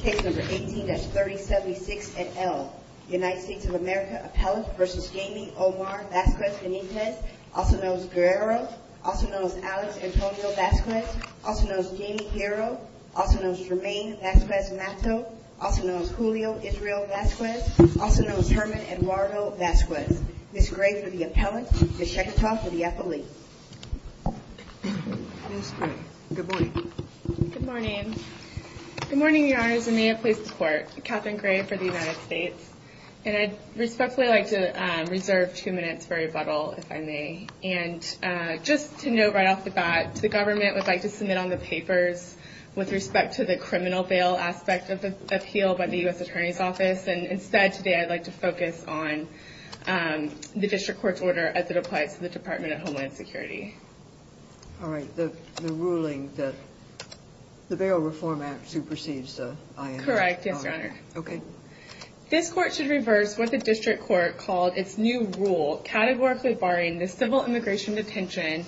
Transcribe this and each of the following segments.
Case number 18-3076 et al. United States of America appellant v. Jaime Omar Vasquez-Benitez, also known as Guero, also known as Alex Antonio Vasquez, also known as Jaime Huero, also known as Jerman Vasquez-Mato, also known as Julio Israel Vasquez, also known as Herman Eduardo Vasquez. Ms. Gray for the appellant. Ms. Sheketaw for the appellant. Ms. Gray, good morning. Good morning. Good morning, Your Honors. I may have placed the court. Katherine Gray for the United States. And I'd respectfully like to reserve two minutes for rebuttal, if I may. And just to note right off the bat, the government would like to submit on the papers with respect to the criminal bail aspect of the appeal by the U.S. Attorney's Office. And instead, today, I'd like to focus on the district court's order as it applies to the Department of Homeland Security. All right. The ruling that the Bail Reform Act supersedes the IAM. Correct. Yes, Your Honor. Okay. This court should reverse what the district court called its new rule, categorically barring the civil immigration detention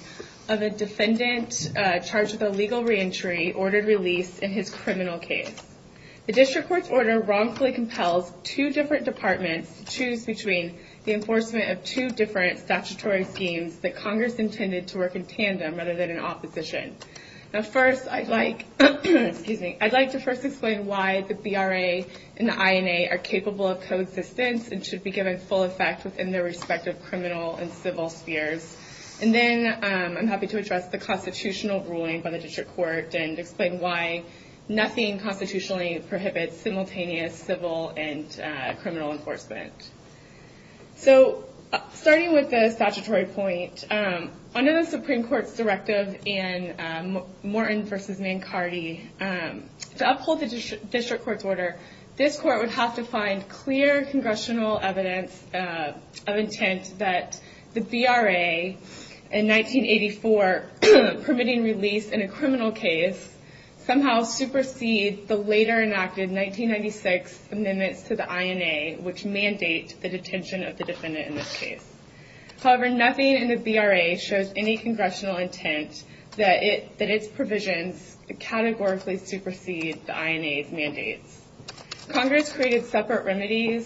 of a defendant charged with illegal reentry ordered release in his criminal case. The district court's order wrongfully compels two different departments to choose between the enforcement of two different statutory schemes that Congress intended to work in tandem rather than in opposition. Now, first, I'd like to first explain why the BRA and the INA are capable of coexistence and should be given full effect within their respective criminal and civil spheres. And then, I'm happy to address the constitutional ruling by the district court and explain why nothing constitutionally prohibits simultaneous civil and criminal enforcement. So, starting with the statutory point, under the Supreme Court's directive in Morton v. Mancarty, to uphold the district court's order, this court would have to find clear congressional evidence of intent that the BRA, in 1984, permitting release in a criminal case, somehow supersedes the later-enacted 1996 amendments to the INA, and thus mandate the detention of the defendant in this case. However, nothing in the BRA shows any congressional intent that its provisions categorically supersede the INA's mandates. Congress created separate remedies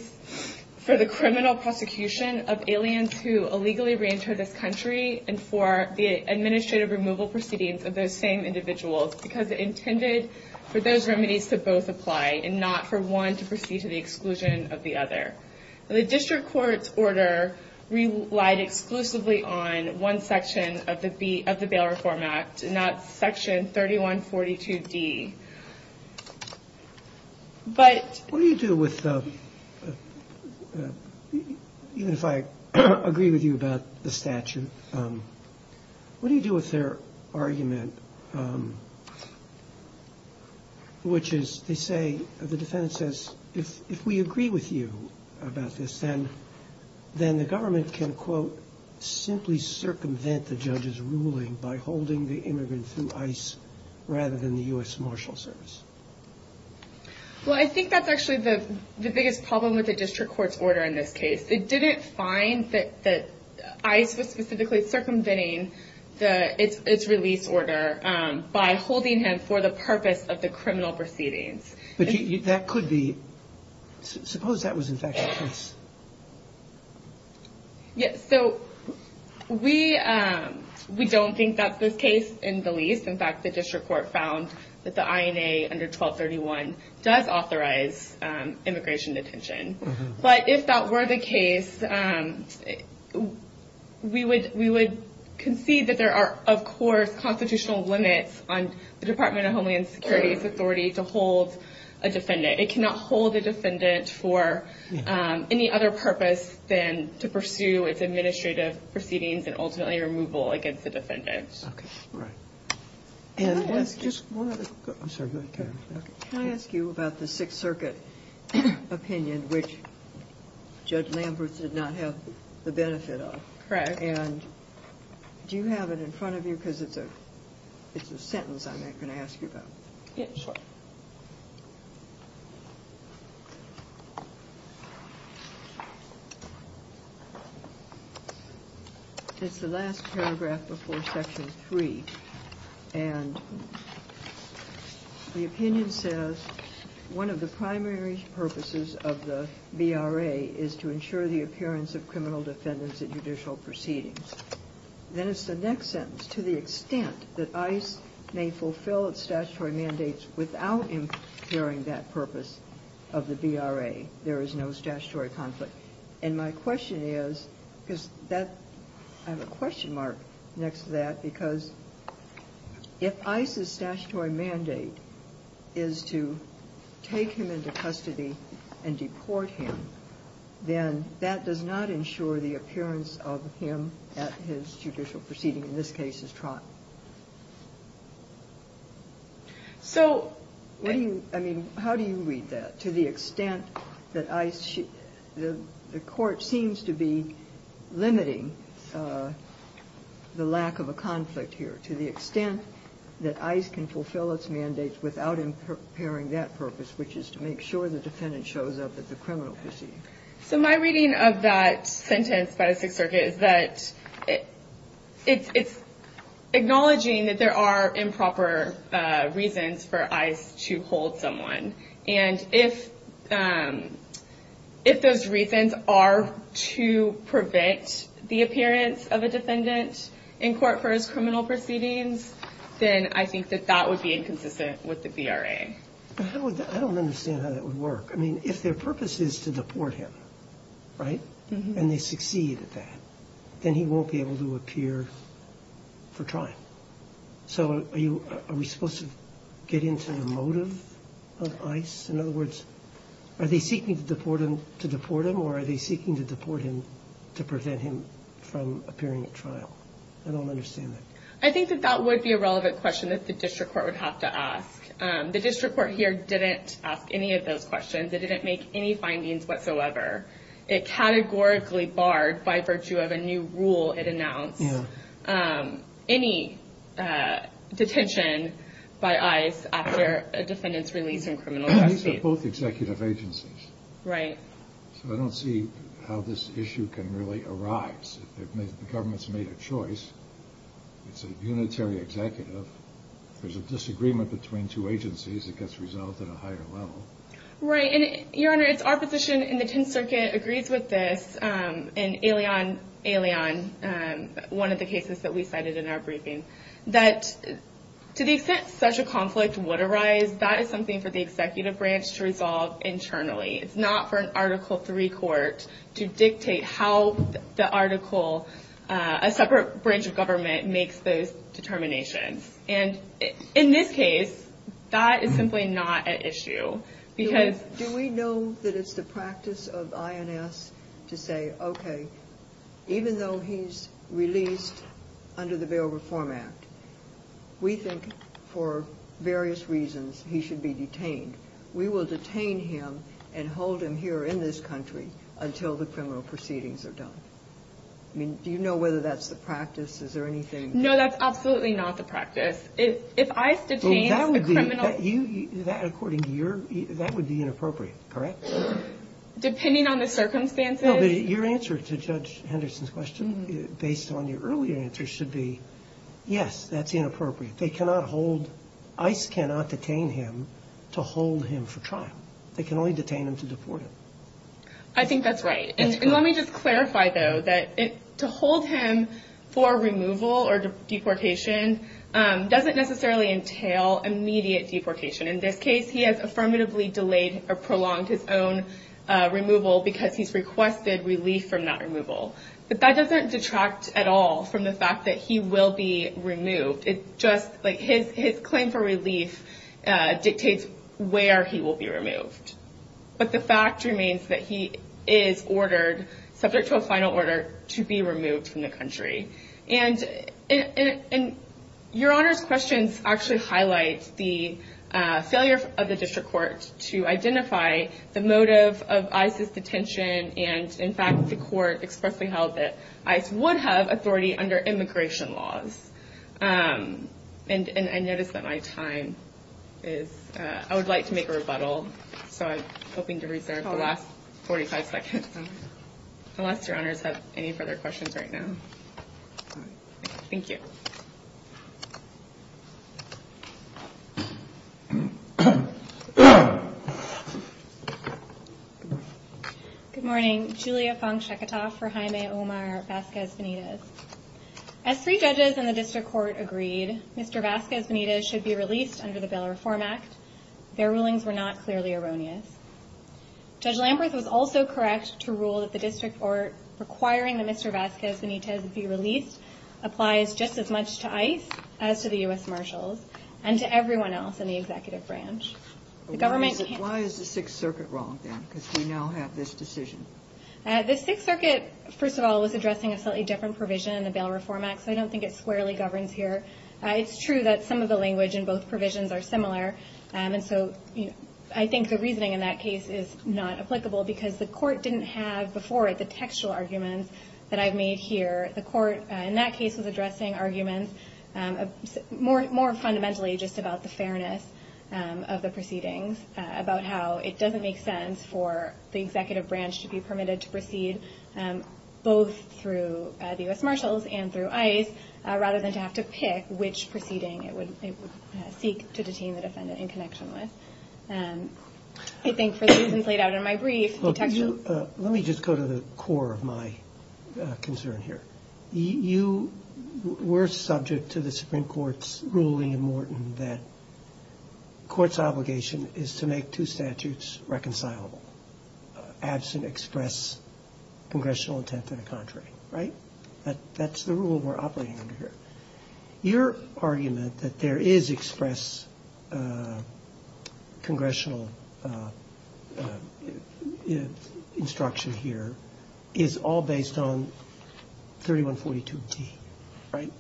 for the criminal prosecution of aliens who illegally reentered this country and for the administrative removal proceedings of those same individuals because it intended for those remedies to both apply and not for one to proceed to the exclusion of the other. And the district court's order relied exclusively on one section of the Bail Reform Act, and that's section 3142D. But... Well, I think that's actually the biggest problem with the district court's order in this case. It didn't find that ICE was specifically circumventing its release order by holding him for the purpose of the criminal proceedings. But that could be... Suppose that was, in fact, the case. It cannot hold a defendant for any other purpose than to pursue its administrative proceedings and ultimately removal against the defendant. Okay, right. Can I ask you about the Sixth Circuit opinion, which Judge Lambert did not have the benefit of? Correct. And do you have it in front of you? Because it's a sentence I'm not going to ask you about. It's the last paragraph before section 3, and the opinion says, one of the primary purposes of the VRA is to ensure the appearance of criminal defendants in judicial proceedings. Then it's the next sentence, to the extent that ICE may fulfill its statutory mandates without impairing that purpose of the VRA, there is no statutory conflict. And my question is, because I have a question mark next to that, because if ICE's statutory mandate is to take him into custody and deport him, then that does not ensure the appearance of him at his judicial proceeding, in this case his trial. So... What do you... I mean, how do you read that, to the extent that ICE should... The Court seems to be limiting the lack of a conflict here, to the extent that ICE can fulfill its mandates without impairing that purpose, which is to make sure the defendant shows up at the criminal proceeding. So my reading of that sentence by the Sixth Circuit is that it's acknowledging that there are improper reasons for ICE to hold someone. And if those reasons are to prevent the appearance of a defendant in court for his criminal proceedings, then I think that that would be inconsistent with the VRA. I don't understand how that would work. I mean, if their purpose is to deport him, right, and they succeed at that, then he won't be able to appear for trial. So are we supposed to get into the motive of ICE? In other words, are they seeking to deport him or are they seeking to deport him to prevent him from appearing at trial? I don't understand that. I think that that would be a relevant question that the district court would have to ask. The district court here didn't ask any of those questions. It didn't make any findings whatsoever. It categorically barred, by virtue of a new rule it announced, any detention by ICE after a defendant's release from criminal proceedings. These are both executive agencies. Right. So I don't see how this issue can really arise. The government's made a choice. It's a unitary executive. There's a disagreement between two agencies. It gets resolved at a higher level. Right. And, Your Honor, it's our position, and the Tenth Circuit agrees with this, and Aileon, one of the cases that we cited in our briefing, that to the extent such a conflict would arise, that is something for the executive branch to resolve internally. It's not for an Article III court to dictate how the article, a separate branch of government, makes those determinations. And in this case, that is simply not at issue because — Do we know that it's the practice of INS to say, okay, even though he's released under the Bail Reform Act, we think for various reasons he should be detained. We will detain him and hold him here in this country until the criminal proceedings are done. I mean, do you know whether that's the practice? Is there anything — No, that's absolutely not the practice. If ICE detains a criminal — Well, that would be — that, according to your — that would be inappropriate, correct? Depending on the circumstances — No, but your answer to Judge Henderson's question, based on your earlier answer, should be, yes, that's inappropriate. They cannot hold — ICE cannot detain him to hold him for trial. They can only detain him to deport him. I think that's right. And let me just clarify, though, that to hold him for removal or deportation doesn't necessarily entail immediate deportation. In this case, he has affirmatively delayed or prolonged his own removal because he's requested relief from that removal. But that doesn't detract at all from the fact that he will be removed. It just — like, his claim for relief dictates where he will be removed. But the fact remains that he is ordered, subject to a final order, to be removed from the country. And your Honor's questions actually highlight the failure of the district court to identify the motive of ICE's detention. And, in fact, the court expressly held that ICE would have authority under immigration laws. And I notice that my time is — I would like to make a rebuttal. So I'm hoping to reserve the last 45 seconds. Unless your Honors have any further questions right now. Thank you. Good morning. Julia Fong Sheketoff for Jaime Omar Vasquez Benitez. As three judges in the district court agreed, Mr. Vasquez Benitez should be released under the Bail Reform Act. Their rulings were not clearly erroneous. Judge Lamberth was also correct to rule that the district court requiring that Mr. Vasquez Benitez be released applies just as much to ICE as to the U.S. Marshals and to everyone else in the executive branch. The government — Why is the Sixth Circuit wrong then? Because we now have this decision. The Sixth Circuit, first of all, was addressing a slightly different provision in the Bail Reform Act, so I don't think it squarely governs here. It's true that some of the language in both provisions are similar. And so I think the reasoning in that case is not applicable because the court didn't have before it the textual arguments that I've made here. The court in that case was addressing arguments more fundamentally just about the fairness of the proceedings, about how it doesn't make sense for the executive branch to be permitted to proceed both through the U.S. Marshals and through ICE rather than to have to pick which proceeding it would seek to detain the defendant in connection with. I think for the reasons laid out in my brief, the textual — Let me just go to the core of my concern here. You were subject to the Supreme Court's ruling in Morton that court's obligation is to make two statutes reconcilable, absent express congressional intent and a contrary. Right? That's the rule we're operating under here. Your argument that there is express congressional instruction here is all based on 3142d. Right?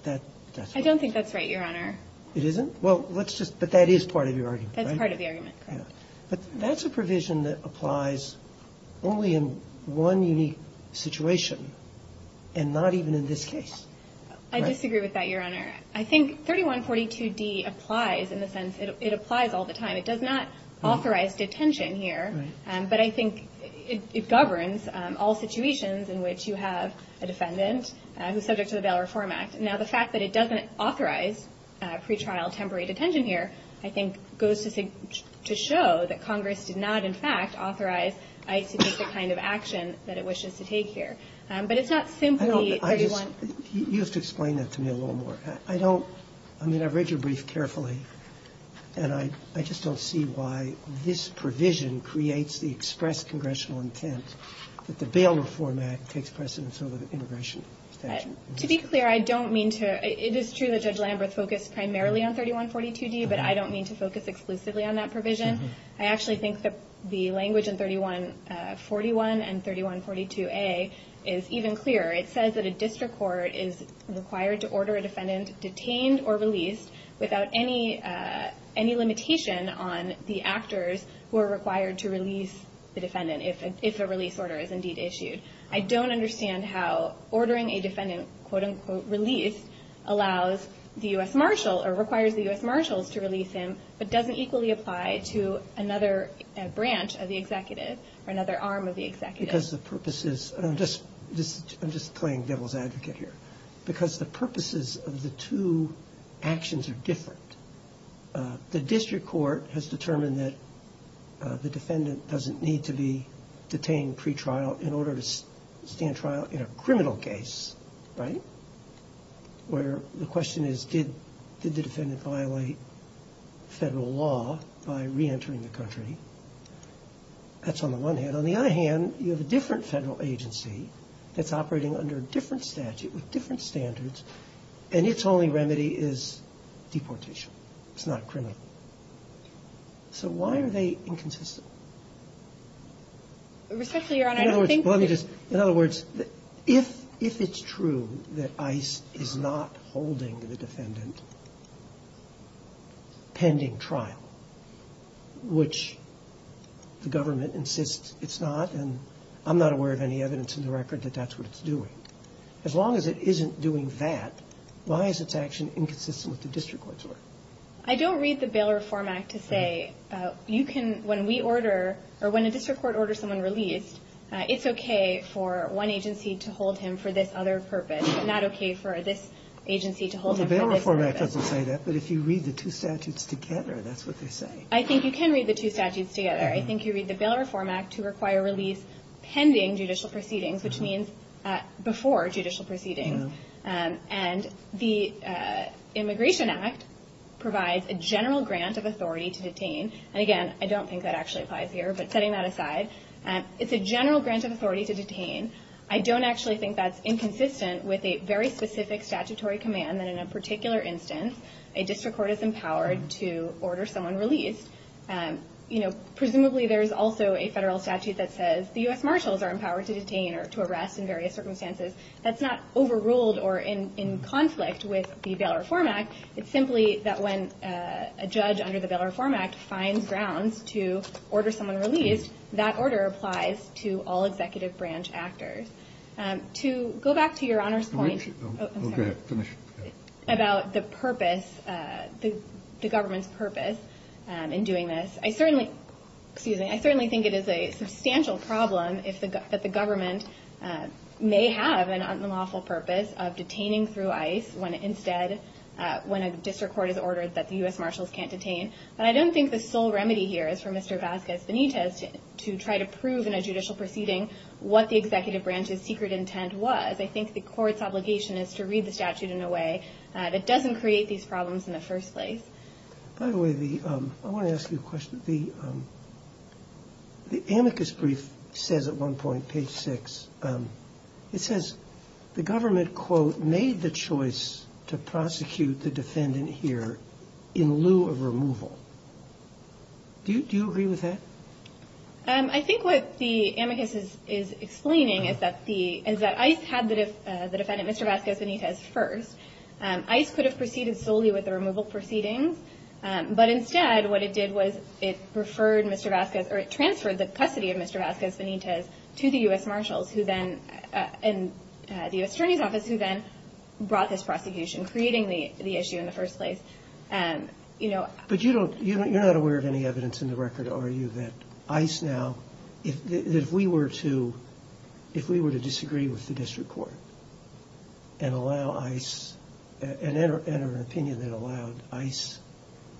I don't think that's right, Your Honor. It isn't? Well, let's just — but that is part of your argument, right? That's part of the argument, correct. But that's a provision that applies only in one unique situation and not even in this case. I disagree with that, Your Honor. I think 3142d applies in the sense it applies all the time. It does not authorize detention here. Right. But I think it governs all situations in which you have a defendant who's subject to the Bail Reform Act. Now, the fact that it doesn't authorize pretrial temporary detention here, I think, goes to show that Congress did not, in fact, authorize ICB's kind of action that it wishes to take here. But it's not simply 31 — You have to explain that to me a little more. I don't — I mean, I've read your brief carefully, and I just don't see why this provision creates the express congressional intent that the Bail Reform Act takes precedence over the immigration statute. To be clear, I don't mean to — it is true that Judge Lambert focused primarily on 3142d, but I don't mean to focus exclusively on that provision. I actually think that the language in 3141 and 3142a is even clearer. It says that a district court is required to order a defendant detained or released without any limitation on the actors who are required to release the defendant if a release order is indeed issued. I don't understand how ordering a defendant, quote-unquote, released allows the U.S. marshal or requires the U.S. marshals to release him, but doesn't equally apply to another branch of the executive or another arm of the executive. Because the purpose is — and I'm just playing devil's advocate here. Because the purposes of the two actions are different. The district court has determined that the defendant doesn't need to be detained pretrial in order to stand trial in a criminal case, right? Where the question is, did the defendant violate federal law by reentering the country? That's on the one hand. On the other hand, you have a different federal agency that's operating under a different statute with different standards, and its only remedy is deportation. It's not criminal. So why are they inconsistent? In other words, if it's true that ICE is not holding the defendant pending trial, which the government insists it's not, and I'm not aware of any evidence in the record that that's what it's doing, as long as it isn't doing that, why is its action inconsistent with the district court's work? I don't read the Bail Reform Act to say you can — when we order, or when a district court orders someone released, it's okay for one agency to hold him for this other purpose, but not okay for this agency to hold him for this other purpose. Well, the Bail Reform Act doesn't say that. But if you read the two statutes together, that's what they say. I think you can read the two statutes together. I think you read the Bail Reform Act to require release pending judicial proceedings, which means before judicial proceedings. And the Immigration Act provides a general grant of authority to detain. And, again, I don't think that actually applies here. But setting that aside, it's a general grant of authority to detain. I don't actually think that's inconsistent with a very specific statutory command that in a particular instance a district court is empowered to order someone released. Presumably there is also a federal statute that says the U.S. Marshals are empowered to detain or to arrest in various circumstances. That's not overruled or in conflict with the Bail Reform Act. It's simply that when a judge under the Bail Reform Act finds grounds to order someone released, that order applies to all executive branch actors. To go back to Your Honor's point about the purpose, the government's purpose in doing this, I certainly think it is a substantial problem that the government may have an unlawful purpose of detaining through ICE when instead when a district court has ordered that the U.S. Marshals can't detain. But I don't think the sole remedy here is for Mr. Vasquez Benitez to try to prove in a judicial proceeding what the executive branch's secret intent was. I think the court's obligation is to read the statute in a way that doesn't create these problems in the first place. By the way, I want to ask you a question. The amicus brief says at one point, page 6, it says the government, quote, made the choice to prosecute the defendant here in lieu of removal. Do you agree with that? I think what the amicus is explaining is that ICE had the defendant, Mr. Vasquez Benitez, first. ICE could have proceeded solely with the removal proceedings, but instead what it did was it transferred the custody of Mr. Vasquez Benitez to the U.S. Marshals and the U.S. Attorney's Office, who then brought this prosecution, creating the issue in the first place. But you're not aware of any evidence in the record, are you, that ICE now, if we were to disagree with the district court and enter an opinion that allowed ICE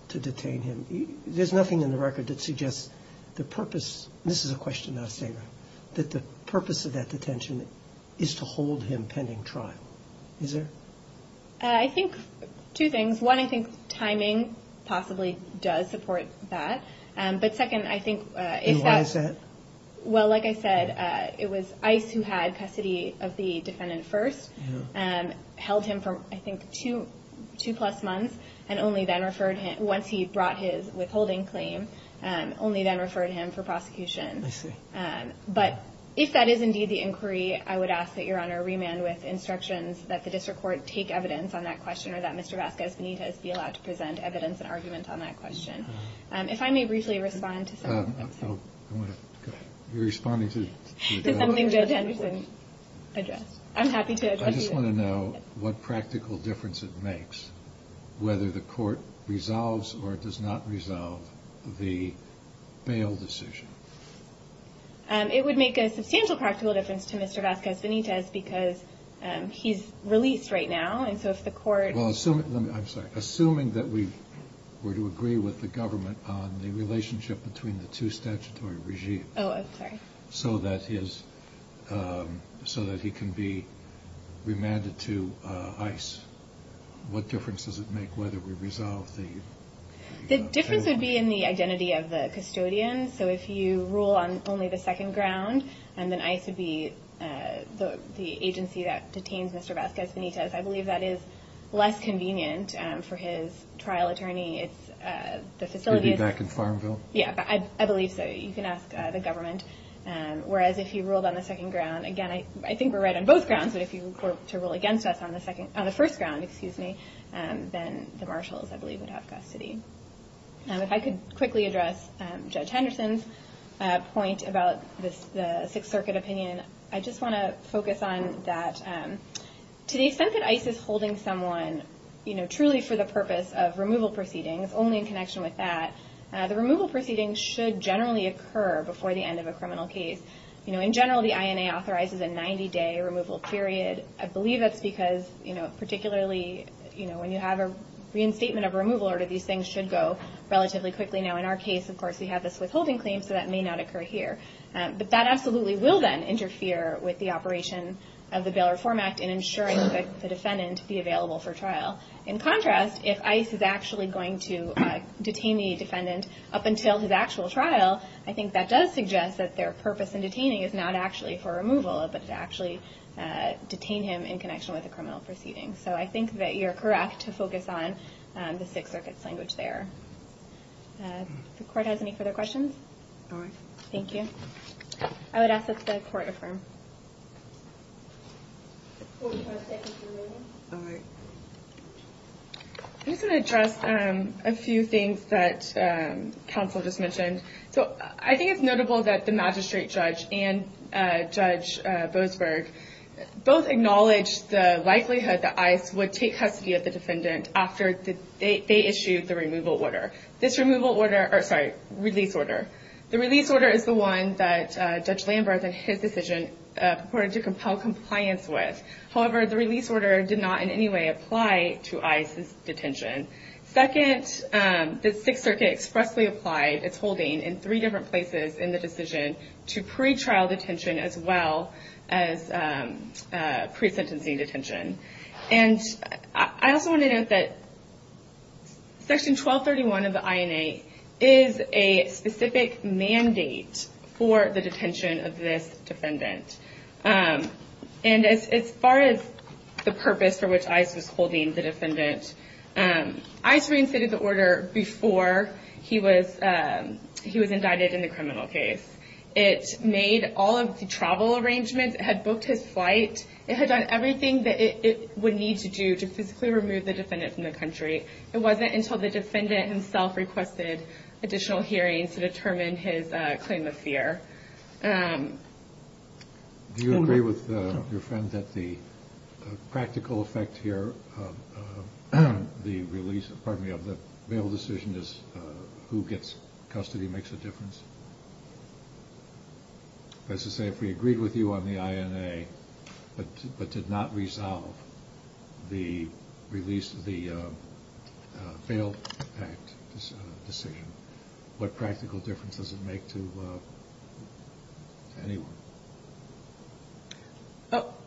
to detain him, there's nothing in the record that suggests the purpose, and this is a question not a statement, that the purpose of that detention is to hold him pending trial. Is there? I think two things. One, I think timing possibly does support that. And why is that? Well, like I said, it was ICE who had custody of the defendant first, held him for, I think, two plus months, and only then referred him, once he brought his withholding claim, only then referred him for prosecution. I see. But if that is indeed the inquiry, I would ask that Your Honor remand with instructions that the district court take evidence on that question or that Mr. Vasquez Benitez be allowed to present evidence and argument on that question. If I may briefly respond to something. You're responding to something Judge Anderson addressed. I'm happy to address you then. I just want to know what practical difference it makes, whether the court resolves or does not resolve the bail decision. It would make a substantial practical difference to Mr. Vasquez Benitez because he's released right now, and so if the court... I'm sorry. Assuming that we were to agree with the government on the relationship between the two statutory regimes... Oh, I'm sorry. ...so that he can be remanded to ICE, what difference does it make whether we resolve the... The difference would be in the identity of the custodian. So if you rule on only the second ground and then ICE would be the agency that detains Mr. Vasquez Benitez, I believe that is less convenient for his trial attorney. The facility is... Would be back in Farmville. Yeah, I believe so. You can ask the government. Whereas if you ruled on the second ground, again, I think we're right on both grounds, but if you were to rule against us on the first ground, then the marshals, I believe, would have custody. If I could quickly address Judge Henderson's point about the Sixth Circuit opinion, I just want to focus on that to the extent that ICE is holding someone truly for the purpose of removal proceedings, only in connection with that, the removal proceedings should generally occur before the end of a criminal case. In general, the INA authorizes a 90-day removal period. I believe that's because particularly when you have a reinstatement of a removal order, these things should go relatively quickly. Now, in our case, of course, we have this withholding claim, so that may not occur here. But that absolutely will then interfere with the operation of the Bail Reform Act in ensuring that the defendant be available for trial. In contrast, if ICE is actually going to detain the defendant up until his actual trial, I think that does suggest that their purpose in detaining is not actually for removal, but to actually detain him in connection with a criminal proceeding. So I think that you're correct to focus on the Sixth Circuit's language there. If the Court has any further questions. All right. Thank you. I would ask that the Court affirm. I just want to address a few things that counsel just mentioned. So I think it's notable that the magistrate judge and Judge Boasberg both acknowledged the likelihood that ICE would take custody of the defendant after they issued the removal order. This release order is the one that Judge Lambert, in his decision, purported to compel compliance with. However, the release order did not in any way apply to ICE's detention. Second, the Sixth Circuit expressly applied its holding in three different places in the decision to pre-trial detention as well as pre-sentencing detention. And I also want to note that Section 1231 of the INA is a specific mandate for the detention of this defendant. And as far as the purpose for which ICE was holding the defendant, ICE reinstated the order before he was indicted in the criminal case. It made all of the travel arrangements. It had booked his flight. It had done everything that it would need to do to physically remove the defendant from the country. It wasn't until the defendant himself requested additional hearings to determine his claim of fear. Do you agree with your friend that the practical effect here of the release – pardon me – of the bail decision is who gets custody makes a difference? That is to say, if we agreed with you on the INA but did not resolve the release of the bail act decision, what practical difference does it make to anyone?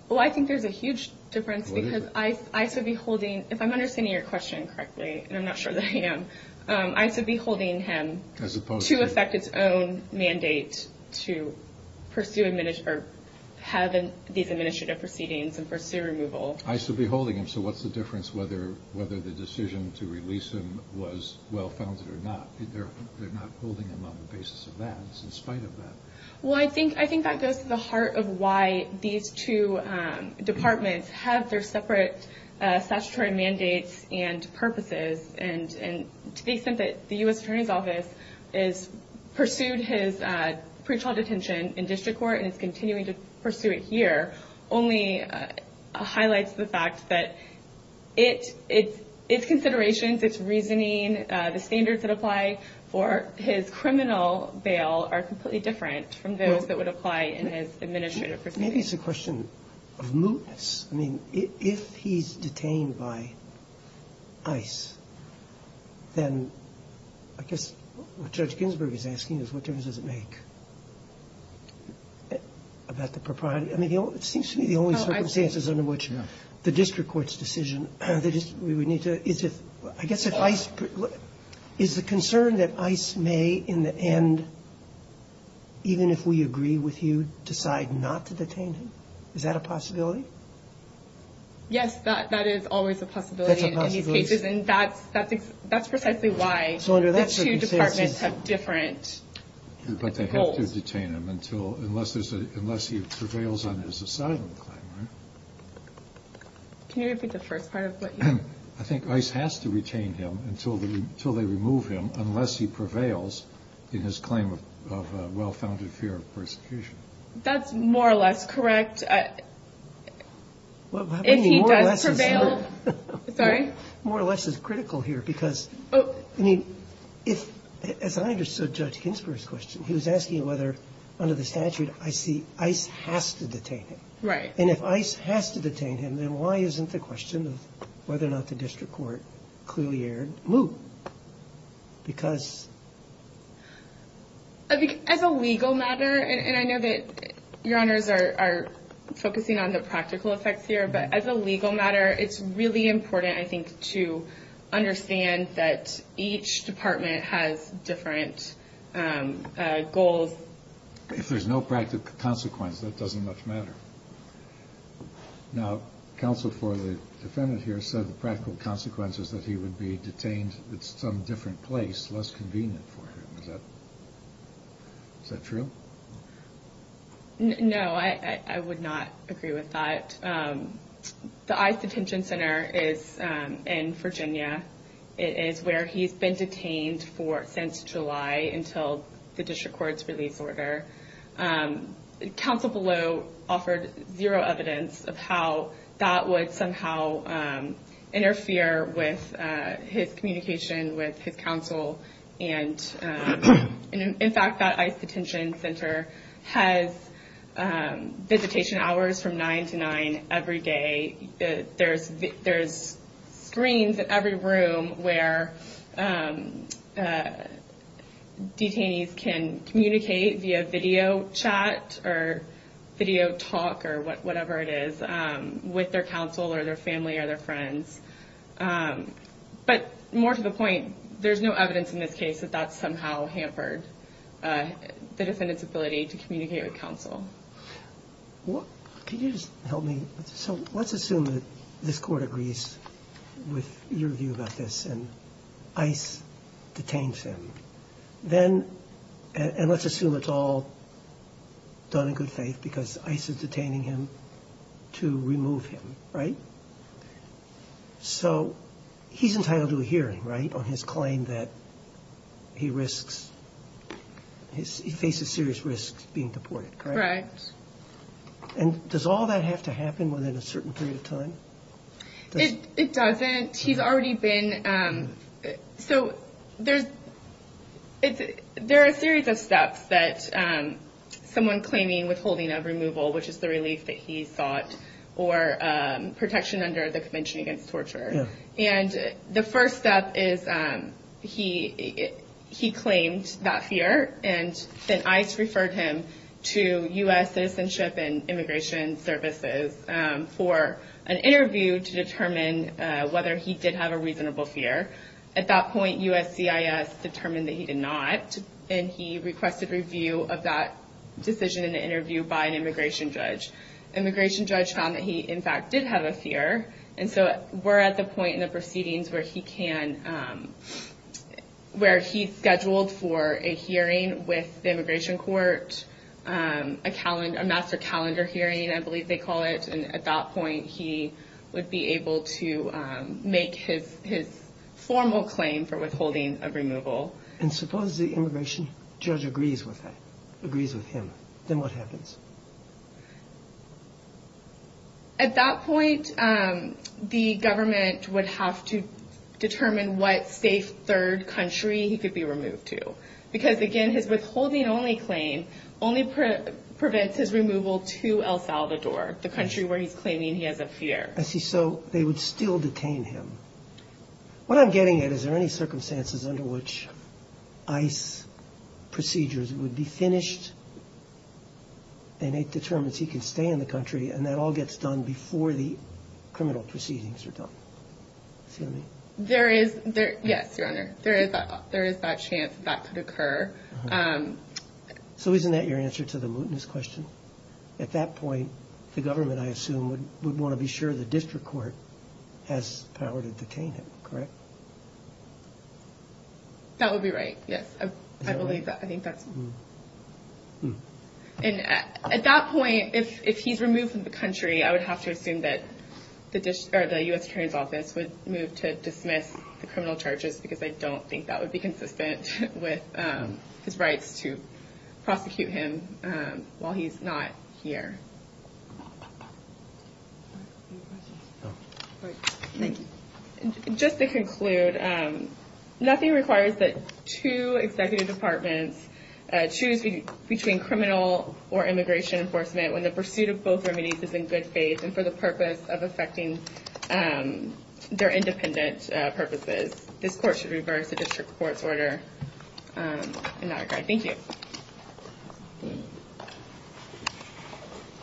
Well, I think there's a huge difference because ICE would be holding – if I'm understanding your question correctly, and I'm not sure that I am – ICE would be holding him to effect its own mandate to have these administrative proceedings and pursue removal. ICE would be holding him. So what's the difference whether the decision to release him was well founded or not? They're not holding him on the basis of that. It's in spite of that. Well, I think that goes to the heart of why these two departments have their separate statutory mandates and purposes. And to the extent that the U.S. Attorney's Office has pursued his pretrial detention in district court and is continuing to pursue it here only highlights the fact that its considerations, its reasoning, the standards that apply for his criminal bail are completely different from those that would apply in his administrative proceedings. Maybe it's a question of mootness. I mean, if he's detained by ICE, then I guess what Judge Ginsburg is asking is what difference does it make about the propriety? I mean, it seems to me the only circumstances under which the district court's decision – I guess if ICE – is the concern that ICE may in the end, even if we agree with you, decide not to detain him? Is that a possibility? Yes, that is always a possibility in these cases. That's a possibility? And that's precisely why the two departments have different goals. But they have to detain him until – unless he prevails on his asylum claim, right? Can you repeat the first part of what you – I think ICE has to retain him until they remove him unless he prevails in his claim of well-founded fear of persecution. That's more or less correct. If he does prevail – More or less is critical here because, I mean, if – as I understood Judge Ginsburg's question, he was asking whether under the statute I see ICE has to detain him. Right. And if ICE has to detain him, then why isn't the question of whether or not the district court clearly erred moot? Because – As a legal matter, and I know that Your Honors are focusing on the practical effects here, but as a legal matter, it's really important, I think, to understand that each department has different goals. If there's no practical consequence, that doesn't much matter. Now, counsel for the defendant here said the practical consequence is that he would be detained at some different place, less convenient for him. Is that true? No, I would not agree with that. The ICE detention center is in Virginia. It is where he's been detained for – since July until the district court's release order. Counsel below offered zero evidence of how that would somehow interfere with his communication with his counsel. And, in fact, that ICE detention center has visitation hours from 9 to 9 every day. There's screens in every room where detainees can communicate via video chat or video talk or whatever it is, with their counsel or their family or their friends. But more to the point, there's no evidence in this case that that's somehow hampered the defendant's ability to communicate with counsel. Can you just help me? So let's assume that this court agrees with your view about this and ICE detains him. Then – and let's assume it's all done in good faith because ICE is detaining him to remove him, right? So he's entitled to a hearing, right, on his claim that he risks – he faces serious risks being deported, correct? And does all that have to happen within a certain period of time? It doesn't. He's already been – so there's – there are a series of steps that someone claiming withholding of removal, which is the relief that he sought, or protection under the Convention Against Torture. And the first step is he claimed that fear, and then ICE referred him to U.S. Citizenship and Immigration Services for an interview to determine whether he did have a reasonable fear. At that point, USCIS determined that he did not, and he requested review of that decision in the interview by an immigration judge. Immigration judge found that he, in fact, did have a fear. And so we're at the point in the proceedings where he can – where he's scheduled for a hearing with the immigration court, a master calendar hearing, I believe they call it. And at that point, he would be able to make his formal claim for withholding of removal. And suppose the immigration judge agrees with him. Then what happens? At that point, the government would have to determine what safe third country he could be removed to. Because, again, his withholding-only claim only prevents his removal to El Salvador, the country where he's claiming he has a fear. I see. So they would still detain him. What I'm getting at, is there any circumstances under which ICE procedures would be finished and it determines he can stay in the country and that all gets done before the criminal proceedings are done? There is. Yes, Your Honor. There is that chance that that could occur. So isn't that your answer to the mootness question? At that point, the government, I assume, would want to be sure the district court has power to detain him, correct? That would be right, yes. I believe that. I think that's – And at that point, if he's removed from the country, I would have to assume that the U.S. Attorney's Office would move to dismiss the criminal charges because I don't think that would be consistent with his rights to prosecute him while he's not here. Just to conclude, nothing requires that two executive departments choose between criminal or immigration enforcement when the pursuit of both remedies is in good faith and for the purpose of effecting their independent purposes. This Court should reverse the district court's order in that regard. Thank you.